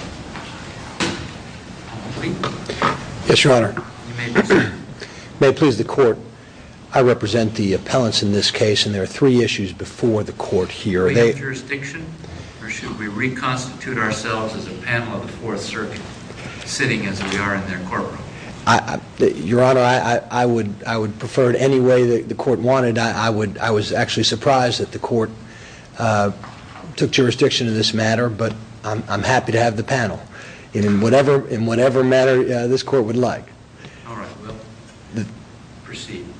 May it please the Court, I represent the appellants in this case, and there are three issues before the Court here. Should we have jurisdiction? Or should we reconstitute ourselves as a panel of the Fourth Circuit, sitting as we are in their courtroom? Your Honor, I would prefer it any way the Court wanted. I was actually surprised that the Court took jurisdiction in this matter, but I'm happy to have the panel in whatever manner this Court would like.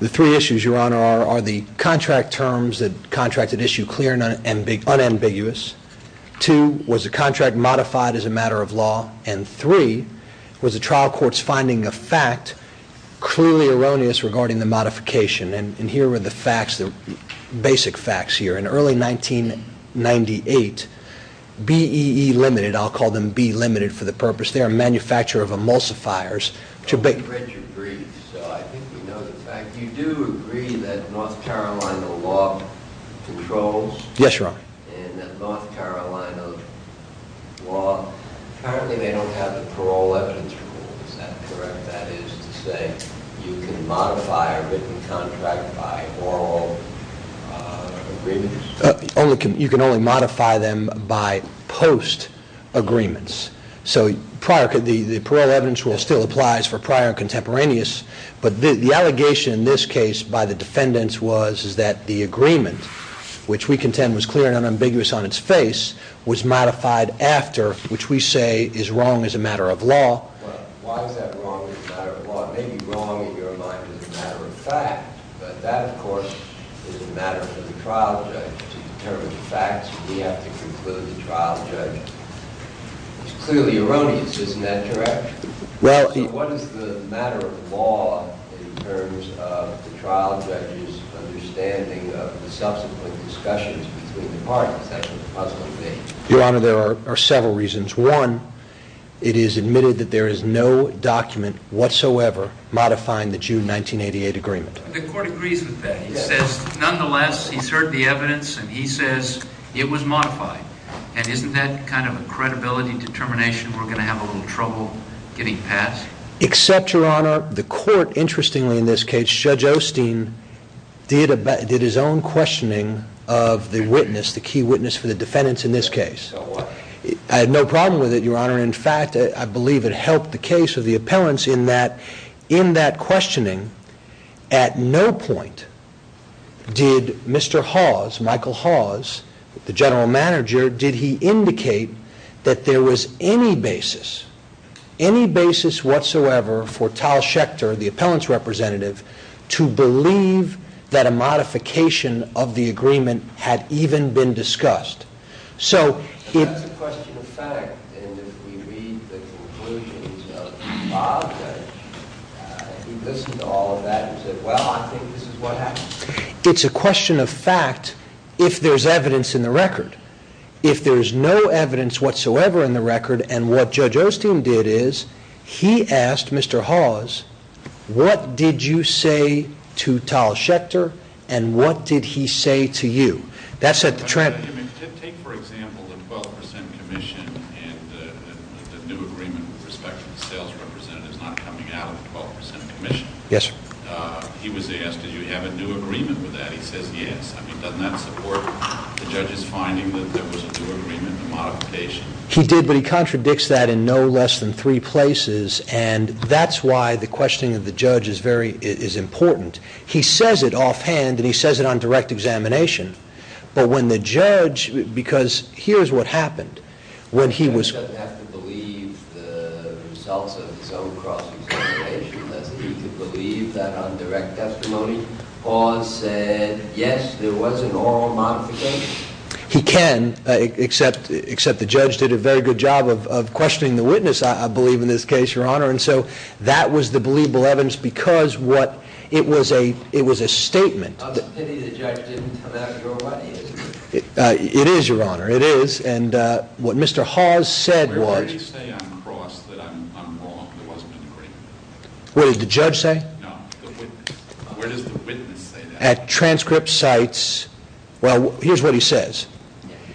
The three issues, Your Honor, are the contract terms, the contracted issue clear and unambiguous, two was the contract modified as a matter of law, and three was the trial court's finding of fact clearly erroneous regarding the modification. And here are the facts, the basic facts here. In early 1998, BEE Limited, I'll call them BEE Limited for the purpose, they are a manufacturer of emulsifiers. I read your brief, so I think you know the fact. You do agree that North Carolina law controls? Yes, Your Honor. And that North Carolina law, apparently they don't have a parole evidence rule, is that correct? That is to say, you can modify a written contract by oral agreements? You can only modify them by post agreements. So the parole evidence rule still applies for prior contemporaneous, but the allegation in this case by the defendants was that the agreement, which we contend was clear and unambiguous on its face, was modified after, which we say is wrong as a matter of law. Well, why is that wrong as a matter of law? It may be wrong in your mind as a matter of fact, but that of course is a matter for the trial judge. To determine the facts, we have to conclude the trial judge. It's clearly erroneous, isn't that correct? So what is the matter of law in terms of the trial judge's understanding of the subsequent discussions between the parties? That's the puzzling thing. Your Honor, there are several reasons. One, it is admitted that there is no document whatsoever modifying the June 1988 agreement. The court agrees with that. He says, nonetheless, he's heard the evidence, and he says it was modified. And isn't that kind of a credibility determination we're going to have a little trouble getting passed? Except, Your Honor, the court, interestingly in this case, Judge Osteen did his own questioning of the witness, the key witness for the defendants in this case. So what? I had no problem with it, Your Honor. In fact, I believe it helped the case of the appellants in that, in that questioning, at no point did Mr. Hawes, Michael Hawes, the general manager, did he indicate that there was any basis, any basis whatsoever for Tal Schechter, the appellant's representative, to believe that a modification of the agreement had even been discussed. But that's a question of fact. And if we read the conclusions of Bob Judge, who listened to all of that and said, well, I think this is what happened. It's a question of fact if there's evidence in the record. If there's no evidence whatsoever in the record, and what Judge Osteen did is, he asked Mr. Hawes, what did you say to Tal Schechter, and what did he say to you? That set the trend. He did, but he contradicts that in no less than three places, and that's why the questioning of the judge is very, is important. He says it offhand, and he says it on direct examination. But when the judge, because here's what happened. When he was... Judge doesn't have to believe the results of his own cross-examination, does he, to believe that on direct testimony? Hawes said, yes, there was an oral modification. He can, except the judge did a very good job of questioning the witness, I believe, in this case, Your Honor. And so that was the believable evidence, because what, it was a statement. It is, Your Honor, it is. And what Mr. Hawes said was... Where did he say on cross that I'm wrong, there wasn't an agreement? What did the judge say? No, the witness. Where does the witness say that? At transcript sites, well, here's what he says.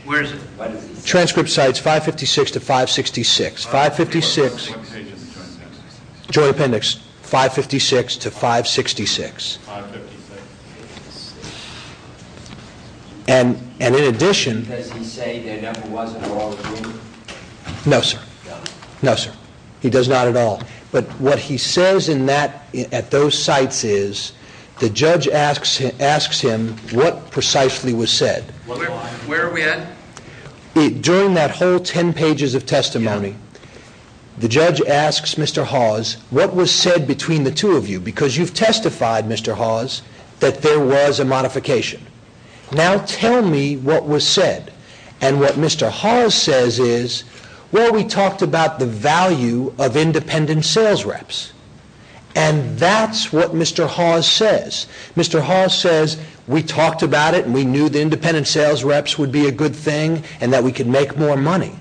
Where is it? What is he saying? Transcript sites 556 to 566. 556... What page is the Joint Appendix? Joint Appendix. 556 to 566. 556. And in addition... Does he say there never was a oral agreement? No, sir. No? No, sir. He does not at all. But what he says in that, at those sites is, the judge asks him what precisely was said. Why? Where are we at? During that whole ten pages of testimony, the judge asks Mr. Hawes, what was said between the two of you? Because you've testified, Mr. Hawes, that there was a modification. Now tell me what was said. And what Mr. Hawes says is, well, we talked about the value of independent sales reps. And that's what Mr. Hawes says. Mr. Hawes says, we talked about it and we knew the independent sales reps would be a good thing and that we could make more money.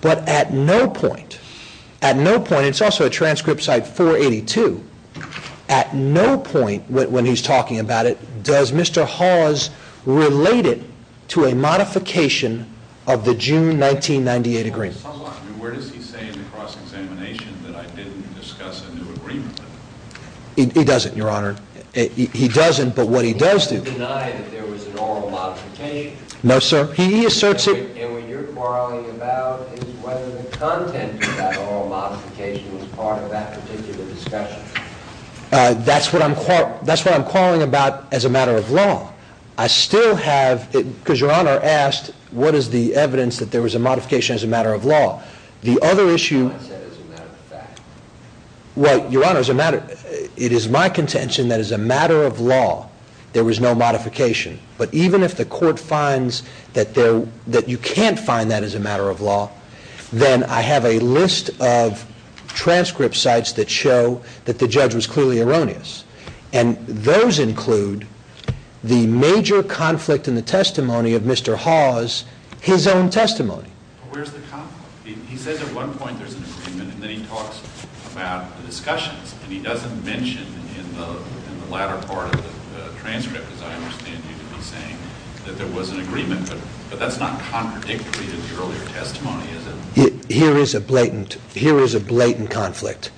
But at no point, at no point, and it's also a transcript site 482, at no point when he's talking about it does Mr. Hawes relate it to a modification of the June 1998 agreement. Where does he say in the cross-examination that I didn't discuss a new agreement? He doesn't, Your Honor. He doesn't, but what he does do... He doesn't deny that there was an oral modification? No, sir. He asserts... And what you're quarreling about is whether the content of that oral modification was part of that particular discussion. That's what I'm quarreling about as a matter of law. I still have, because Your Honor asked, what is the evidence that there was a modification as a matter of law? The other issue... I said as a matter of fact. Well, Your Honor, it is my contention that as a matter of law, there was no modification. But even if the court finds that you can't find that as a matter of law, then I have a list of transcript sites that show that the judge was clearly erroneous. And those include the major conflict in the testimony of Mr. Hawes, his own testimony. But where's the conflict? He says at one point there's an agreement, and then he talks about the discussions, and he doesn't mention in the latter part of the transcript, as I understand you to be saying, that there was an agreement. But that's not contradictory to the earlier testimony, is it? Here is a blatant conflict.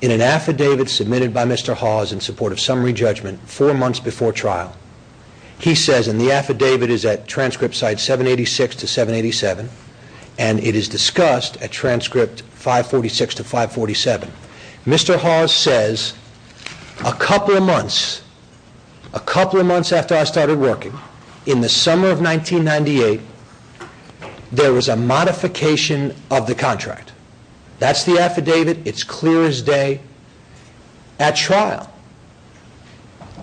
In an affidavit submitted by Mr. Hawes in support of summary judgment four months before trial, he says, and the affidavit is at transcript site 786 to 787, and it is discussed at transcript 546 to 547. Mr. Hawes says, a couple of months, a couple of months after I started working, in the summer of 1998, there was a modification of the contract. That's the affidavit. It's clear as day at trial.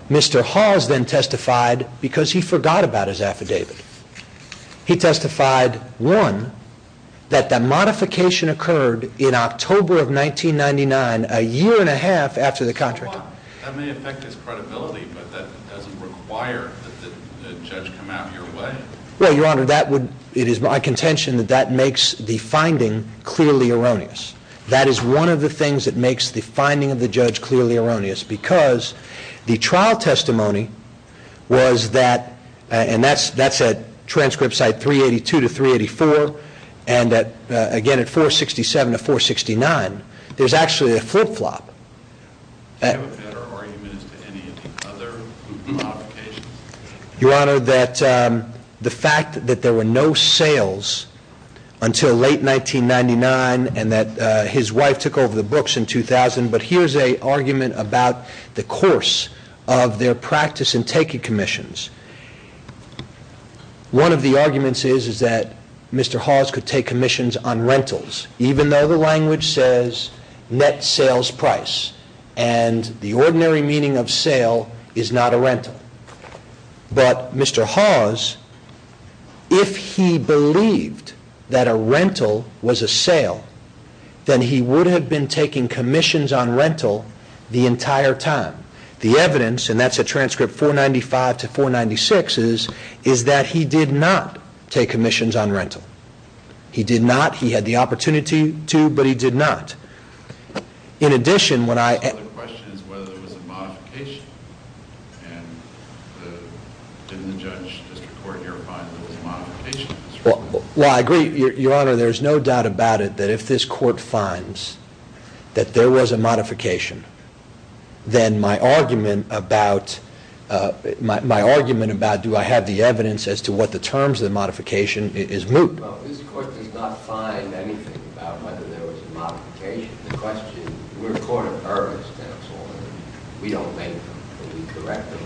Mr. Hawes then testified because he forgot about his affidavit. He testified, one, that the modification occurred in October of 1999, a year and a half after the contract. That may affect his credibility, but that doesn't require that the judge come out in your way? Well, Your Honor, it is my contention that that makes the finding clearly erroneous. That is one of the things that makes the finding of the judge clearly erroneous, because the at transcript site 382 to 384, and again at 467 to 469, there's actually a flip-flop. Do you have a better argument as to any of the other modifications? Your Honor, that the fact that there were no sales until late 1999, and that his wife took over the books in 2000, but here's a argument about the course of their practice in taking commissions. One of the arguments is that Mr. Hawes could take commissions on rentals, even though the language says net sales price, and the ordinary meaning of sale is not a rental. But Mr. Hawes, if he believed that a rental was a sale, then he would have been taking commissions on rental the entire time. The evidence, and that's at transcript 495 to 496, is that he did not take commissions on rental. He did not. He had the opportunity to, but he did not. In addition, when I... The question is whether there was a modification, and did the judge, just the court here, find that there was a modification? Well, I agree, Your Honor, there's no doubt about it that if this court finds that there was a modification, then my argument about do I have the evidence as to what the terms of the modification is moot. Well, this court does not find anything about whether there was a modification. The question... We're a court of earnest counsel, and we don't make them, and we correct them.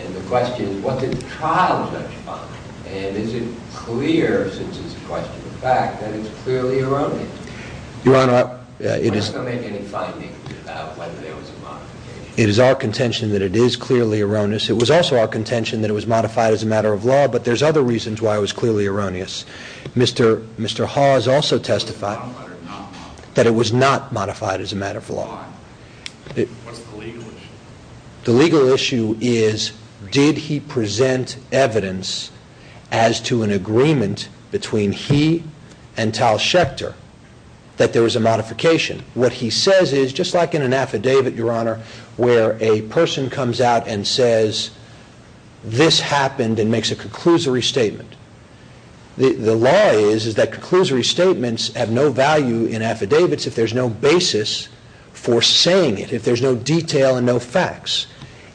And the question is, what did the trial judge find? And is it clear, since it's a question of fact, that it's clearly erroneous? Your Honor, it is... Did he make any finding about whether there was a modification? It is our contention that it is clearly erroneous. It was also our contention that it was modified as a matter of law, but there's other reasons why it was clearly erroneous. Mr. Haw has also testified... Modified or not modified? That it was not modified as a matter of law. Why? What's the legal issue? The legal issue is, did he present evidence as to an agreement between he and Tal Schechter that there was a modification? What he says is, just like in an affidavit, Your Honor, where a person comes out and says, this happened and makes a conclusory statement. The law is that conclusory statements have no value in affidavits if there's no basis for saying it, if there's no detail and no facts.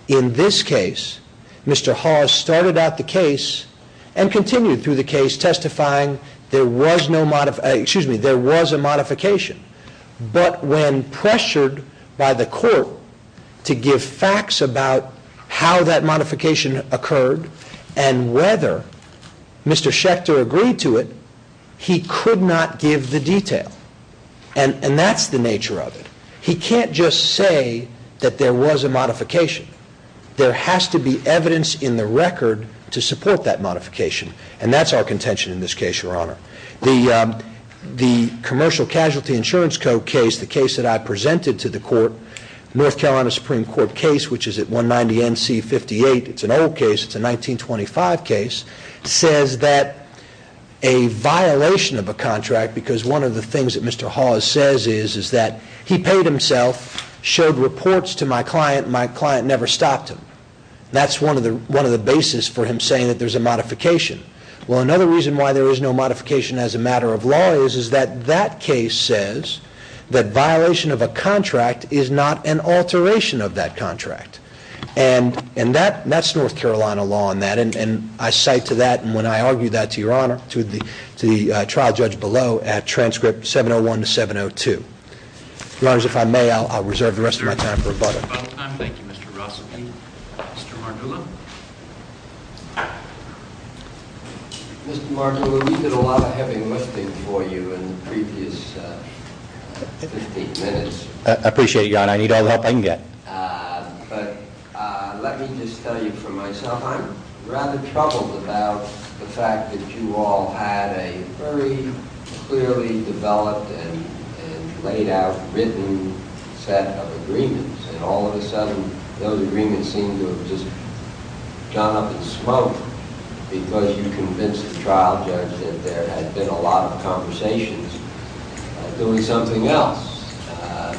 In this case, Mr. Haw started out the case and continued through the case testifying there was a modification, but when pressured by the court to give facts about how that modification occurred and whether Mr. Schechter agreed to it, he could not give the detail. And that's the nature of it. He can't just say that there was a modification. There has to be evidence in the record to support that modification, and that's our contention in this case, Your Honor. The Commercial Casualty Insurance Code case, the case that I presented to the court, North Carolina Supreme Court case, which is at 190 NC 58, it's an old case, it's a 1925 case, says that a violation of a contract, because one of the things that Mr. Haw says is that he paid himself, showed reports to my client, and my client never stopped him. That's one of the basis for him saying that there's a modification. Well, another reason why there is no modification as a matter of law is that that case says that violation of a contract is not an alteration of that contract. And that's North Carolina law on that, and I cite to that, and when I argue that to Your Honor, to the trial judge below at transcript 701 to 702. Your Honor, if I may, I'll reserve the rest of my time for rebuttal. Thank you, Mr. Ross. Mr. Margulis. Mr. Margulis, you did a lot of heavy lifting for you in the previous 15 minutes. I appreciate it, Your Honor. I need all the help I can get. But let me just tell you for myself, I'm rather troubled about the fact that you all had a very clearly developed and laid out written set of agreements, and all of a sudden those agreements seem to have just gone up in smoke because you convinced the trial judge that there had been a lot of conversations about doing something else.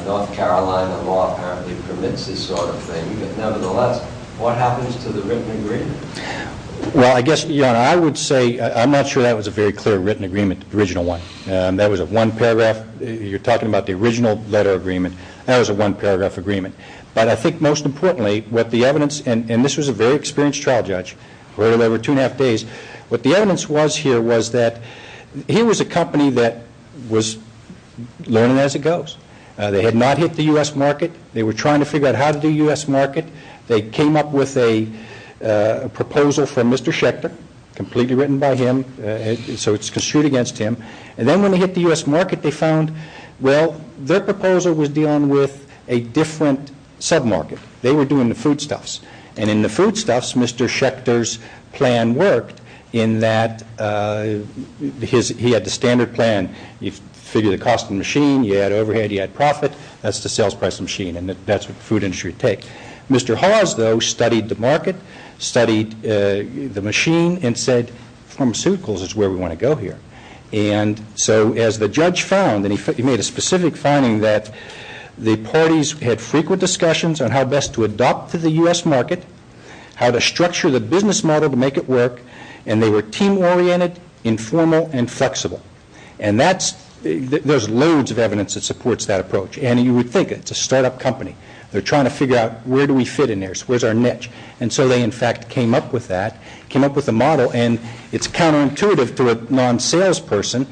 North Carolina law apparently permits this sort of thing, but nevertheless, what happens to the written agreement? Well, I guess, Your Honor, I would say, I'm not sure that was a very clear written agreement, the original one. That was a one-paragraph. You're talking about the original letter agreement. That was a one-paragraph agreement. But I think most importantly what the evidence, and this was a very experienced trial judge, where there were two and a half days, what the evidence was here was that he was a company that was learning as it goes. They had not hit the U.S. market. They were trying to figure out how to do U.S. market. They came up with a proposal from Mr. Schechter, completely written by him, so it's construed against him. And then when they hit the U.S. market, they found, well, their proposal was dealing with a different sub-market. They were doing the foodstuffs. And in the foodstuffs, Mr. Schechter's plan worked in that he had the standard plan. You figure the cost of the machine, you add overhead, you add profit. That's the sales price of the machine, and that's what the food industry would take. Mr. Hawes, though, studied the market, studied the machine, and said pharmaceuticals is where we want to go here. And so as the judge found, and he made a specific finding, that the parties had frequent discussions on how best to adopt to the U.S. market, how to structure the business model to make it work, and they were team-oriented, informal, and flexible. And there's loads of evidence that supports that approach. And you would think it's a start-up company. They're trying to figure out where do we fit in there, where's our niche. And so they, in fact, came up with that, came up with a model. And it's counterintuitive to a non-salesperson,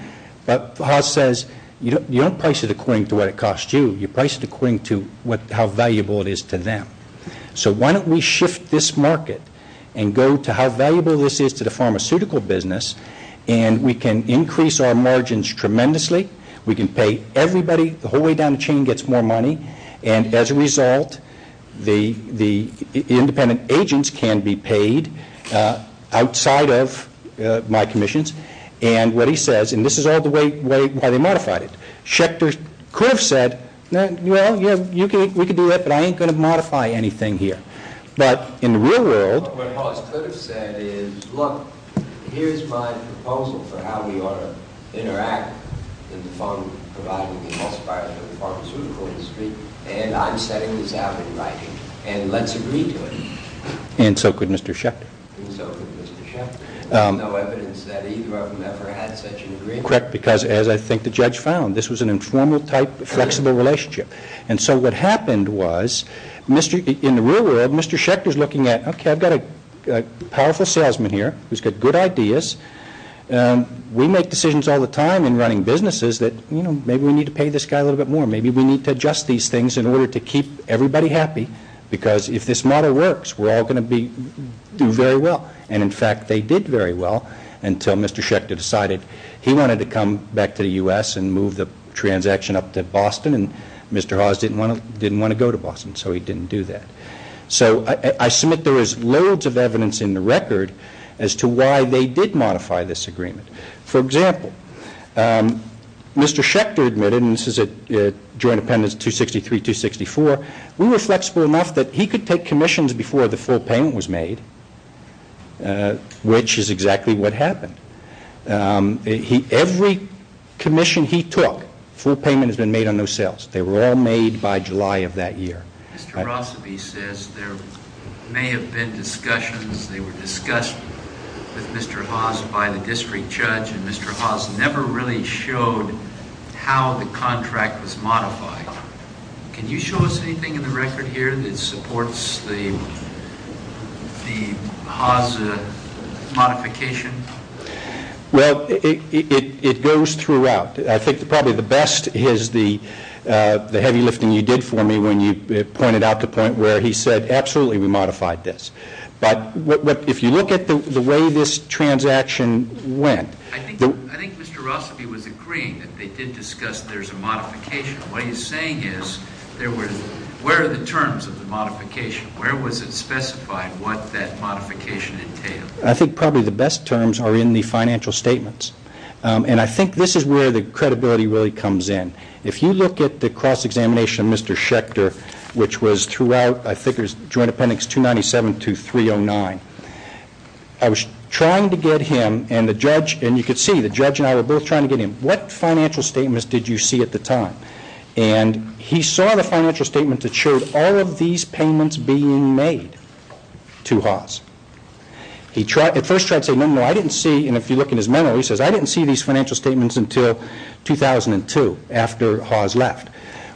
but Hawes says, you don't price it according to what it costs you. You price it according to how valuable it is to them. So why don't we shift this market and go to how valuable this is to the pharmaceutical business, and we can increase our margins tremendously. We can pay everybody. The whole way down the chain gets more money. And as a result, the independent agents can be paid outside of my commissions. And what he says, and this is all the way why they modified it, Schechter could have said, well, yeah, we could do that, but I ain't going to modify anything here. But in the real world. What Hawes could have said is, look, here's my proposal for how we ought to interact with the pharmaceutical industry, and I'm setting this out in writing, and let's agree to it. And so could Mr. Schechter. And so could Mr. Schechter. There's no evidence that either of them ever had such an agreement. Correct, because as I think the judge found, this was an informal-type, flexible relationship. And so what happened was, in the real world, Mr. Schechter's looking at, okay, I've got a powerful salesman here who's got good ideas. We make decisions all the time in running businesses that, you know, maybe we need to pay this guy a little bit more. Maybe we need to adjust these things in order to keep everybody happy, because if this model works, we're all going to do very well. And, in fact, they did very well until Mr. Schechter decided he wanted to come back to the U.S. and move the transaction up to Boston, and Mr. Hawes didn't want to go to Boston, so he didn't do that. So I submit there is loads of evidence in the record as to why they did modify this agreement. For example, Mr. Schechter admitted, and this is at Joint Appendix 263-264, we were flexible enough that he could take commissions before the full payment was made, which is exactly what happened. Every commission he took, full payment has been made on those sales. They were all made by July of that year. Mr. Rossaby says there may have been discussions. They were discussed with Mr. Hawes by the district judge, and Mr. Hawes never really showed how the contract was modified. Can you show us anything in the record here that supports the Hawes modification? Well, it goes throughout. I think probably the best is the heavy lifting you did for me when you pointed out the point where he said, absolutely, we modified this. But if you look at the way this transaction went. I think Mr. Rossaby was agreeing that they did discuss there's a modification. What he's saying is, where are the terms of the modification? Where was it specified what that modification entailed? I think probably the best terms are in the financial statements, and I think this is where the credibility really comes in. If you look at the cross-examination of Mr. Schechter, which was throughout Joint Appendix 297 to 309, I was trying to get him, and you can see the judge and I were both trying to get him, what financial statements did you see at the time? He saw the financial statement that showed all of these payments being made to Hawes. He at first tried to say, no, no, I didn't see, and if you look in his memory, he says, I didn't see these financial statements until 2002 after Hawes left.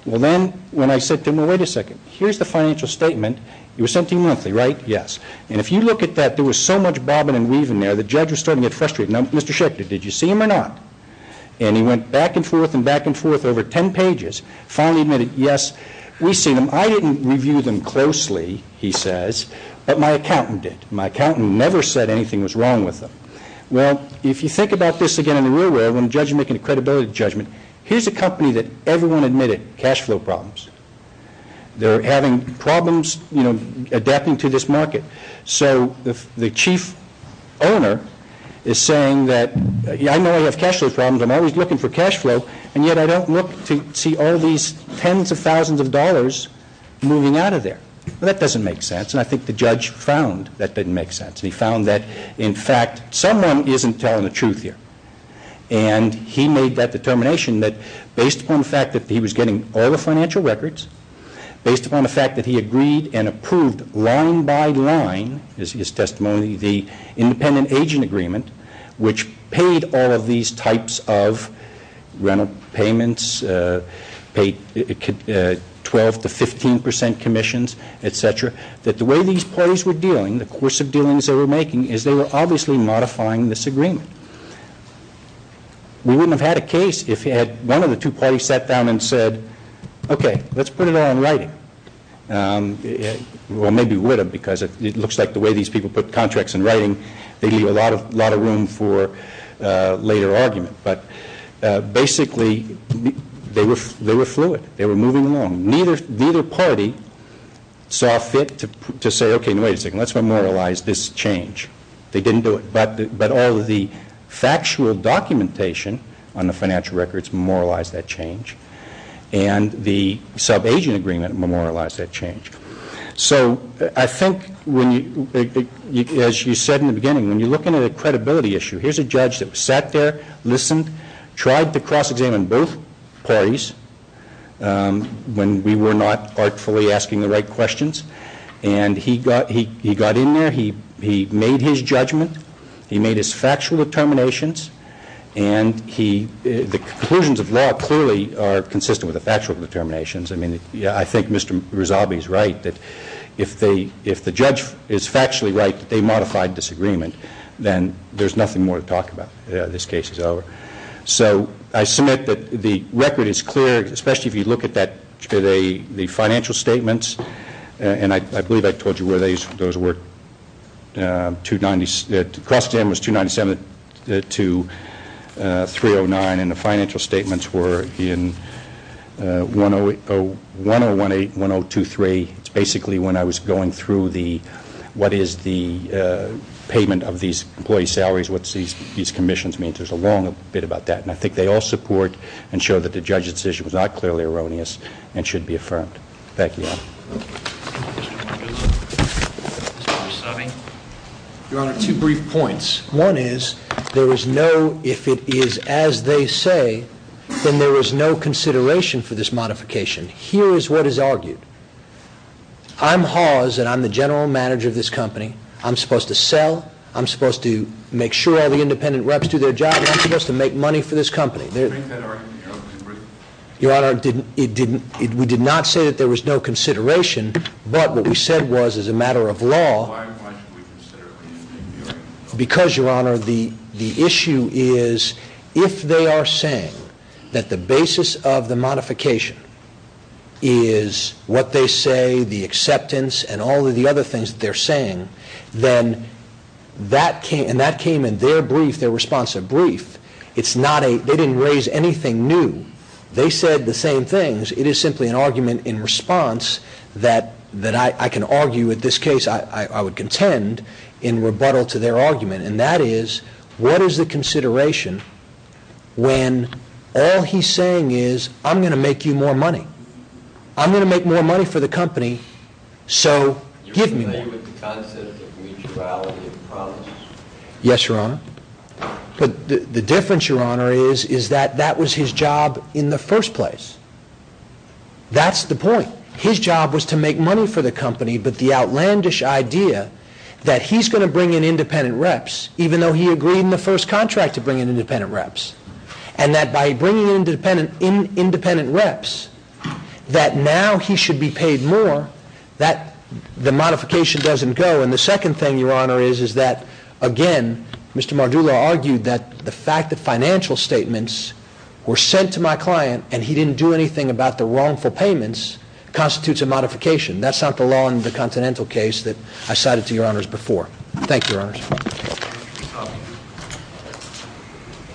Well, then when I said to him, well, wait a second, here's the financial statement. It was sent to you monthly, right? Yes. And if you look at that, there was so much bobbing and weaving there, the judge was starting to get frustrated. Now, Mr. Schechter, did you see them or not? And he went back and forth and back and forth over ten pages, finally admitted, yes, we see them. I didn't review them closely, he says, but my accountant did. My accountant never said anything was wrong with them. Well, if you think about this again in the real world, when a judge is making a credibility judgment, here's a company that everyone admitted cash flow problems. They're having problems, you know, adapting to this market. So the chief owner is saying that, I know I have cash flow problems, I'm always looking for cash flow, and yet I don't look to see all these tens of thousands of dollars moving out of there. Well, that doesn't make sense, and I think the judge found that didn't make sense. He found that, in fact, someone isn't telling the truth here. And he made that determination that based upon the fact that he was getting all the financial records, based upon the fact that he agreed and approved line by line, as his testimony, the independent agent agreement, which paid all of these types of rental payments, paid 12% to 15% commissions, et cetera, that the way these parties were dealing, the course of dealings they were making, is they were obviously modifying this agreement. We wouldn't have had a case if one of the two parties sat down and said, okay, let's put it all in writing. Well, maybe we would have, because it looks like the way these people put contracts in writing, they leave a lot of room for later argument. But basically, they were fluid. They were moving along. Neither party saw fit to say, okay, wait a second, let's memorialize this change. They didn't do it. But all of the factual documentation on the financial records memorialized that change, and the sub-agent agreement memorialized that change. So I think, as you said in the beginning, when you're looking at a credibility issue, here's a judge that sat there, listened, tried to cross-examine both parties when we were not artfully asking the right questions, and he got in there, he made his judgment, he made his factual determinations, and the conclusions of law clearly are consistent with the factual determinations. I mean, I think Mr. Rosabi is right that if the judge is factually right that they modified this agreement, then there's nothing more to talk about. This case is over. So I submit that the record is clear, especially if you look at the financial statements, and I believe I told you where those were. The cross-examination was 297 to 309, and the financial statements were in 1018 and 1023. It's basically when I was going through what is the payment of these employees' salaries, what these commissions mean. There's a long bit about that, and I think they all support and show that the judge's decision was not clearly erroneous and should be affirmed. Thank you, Your Honor. Your Honor, two brief points. One is there is no, if it is as they say, then there is no consideration for this modification. Here is what is argued. I'm Hawes, and I'm the general manager of this company. I'm supposed to sell, I'm supposed to make sure all the independent reps do their job, and I'm supposed to make money for this company. Make that argument, Your Honor. Your Honor, we did not say that there was no consideration, but what we said was as a matter of law. Because, Your Honor, the issue is if they are saying that the basis of the modification is what they say, the acceptance, and all of the other things that they're saying, then that came in their brief, their responsive brief. They didn't raise anything new. They said the same things. It is simply an argument in response that I can argue, in this case I would contend, in rebuttal to their argument, and that is what is the consideration when all he's saying is I'm going to make you more money. I'm going to make more money for the company, so give me more. You're familiar with the concept of mutuality of promise. Yes, Your Honor. But the difference, Your Honor, is that that was his job in the first place. That's the point. His job was to make money for the company, but the outlandish idea that he's going to bring in independent reps, even though he agreed in the first contract to bring in independent reps, and that by bringing in independent reps that now he should be paid more, that the modification doesn't go. And the second thing, Your Honor, is that, again, Mr. Mardula argued that the fact that financial statements were sent to my client and he didn't do anything about the wrongful payments constitutes a modification. That's not the law in the Continental case that I cited to Your Honors before. Thank you, Your Honors.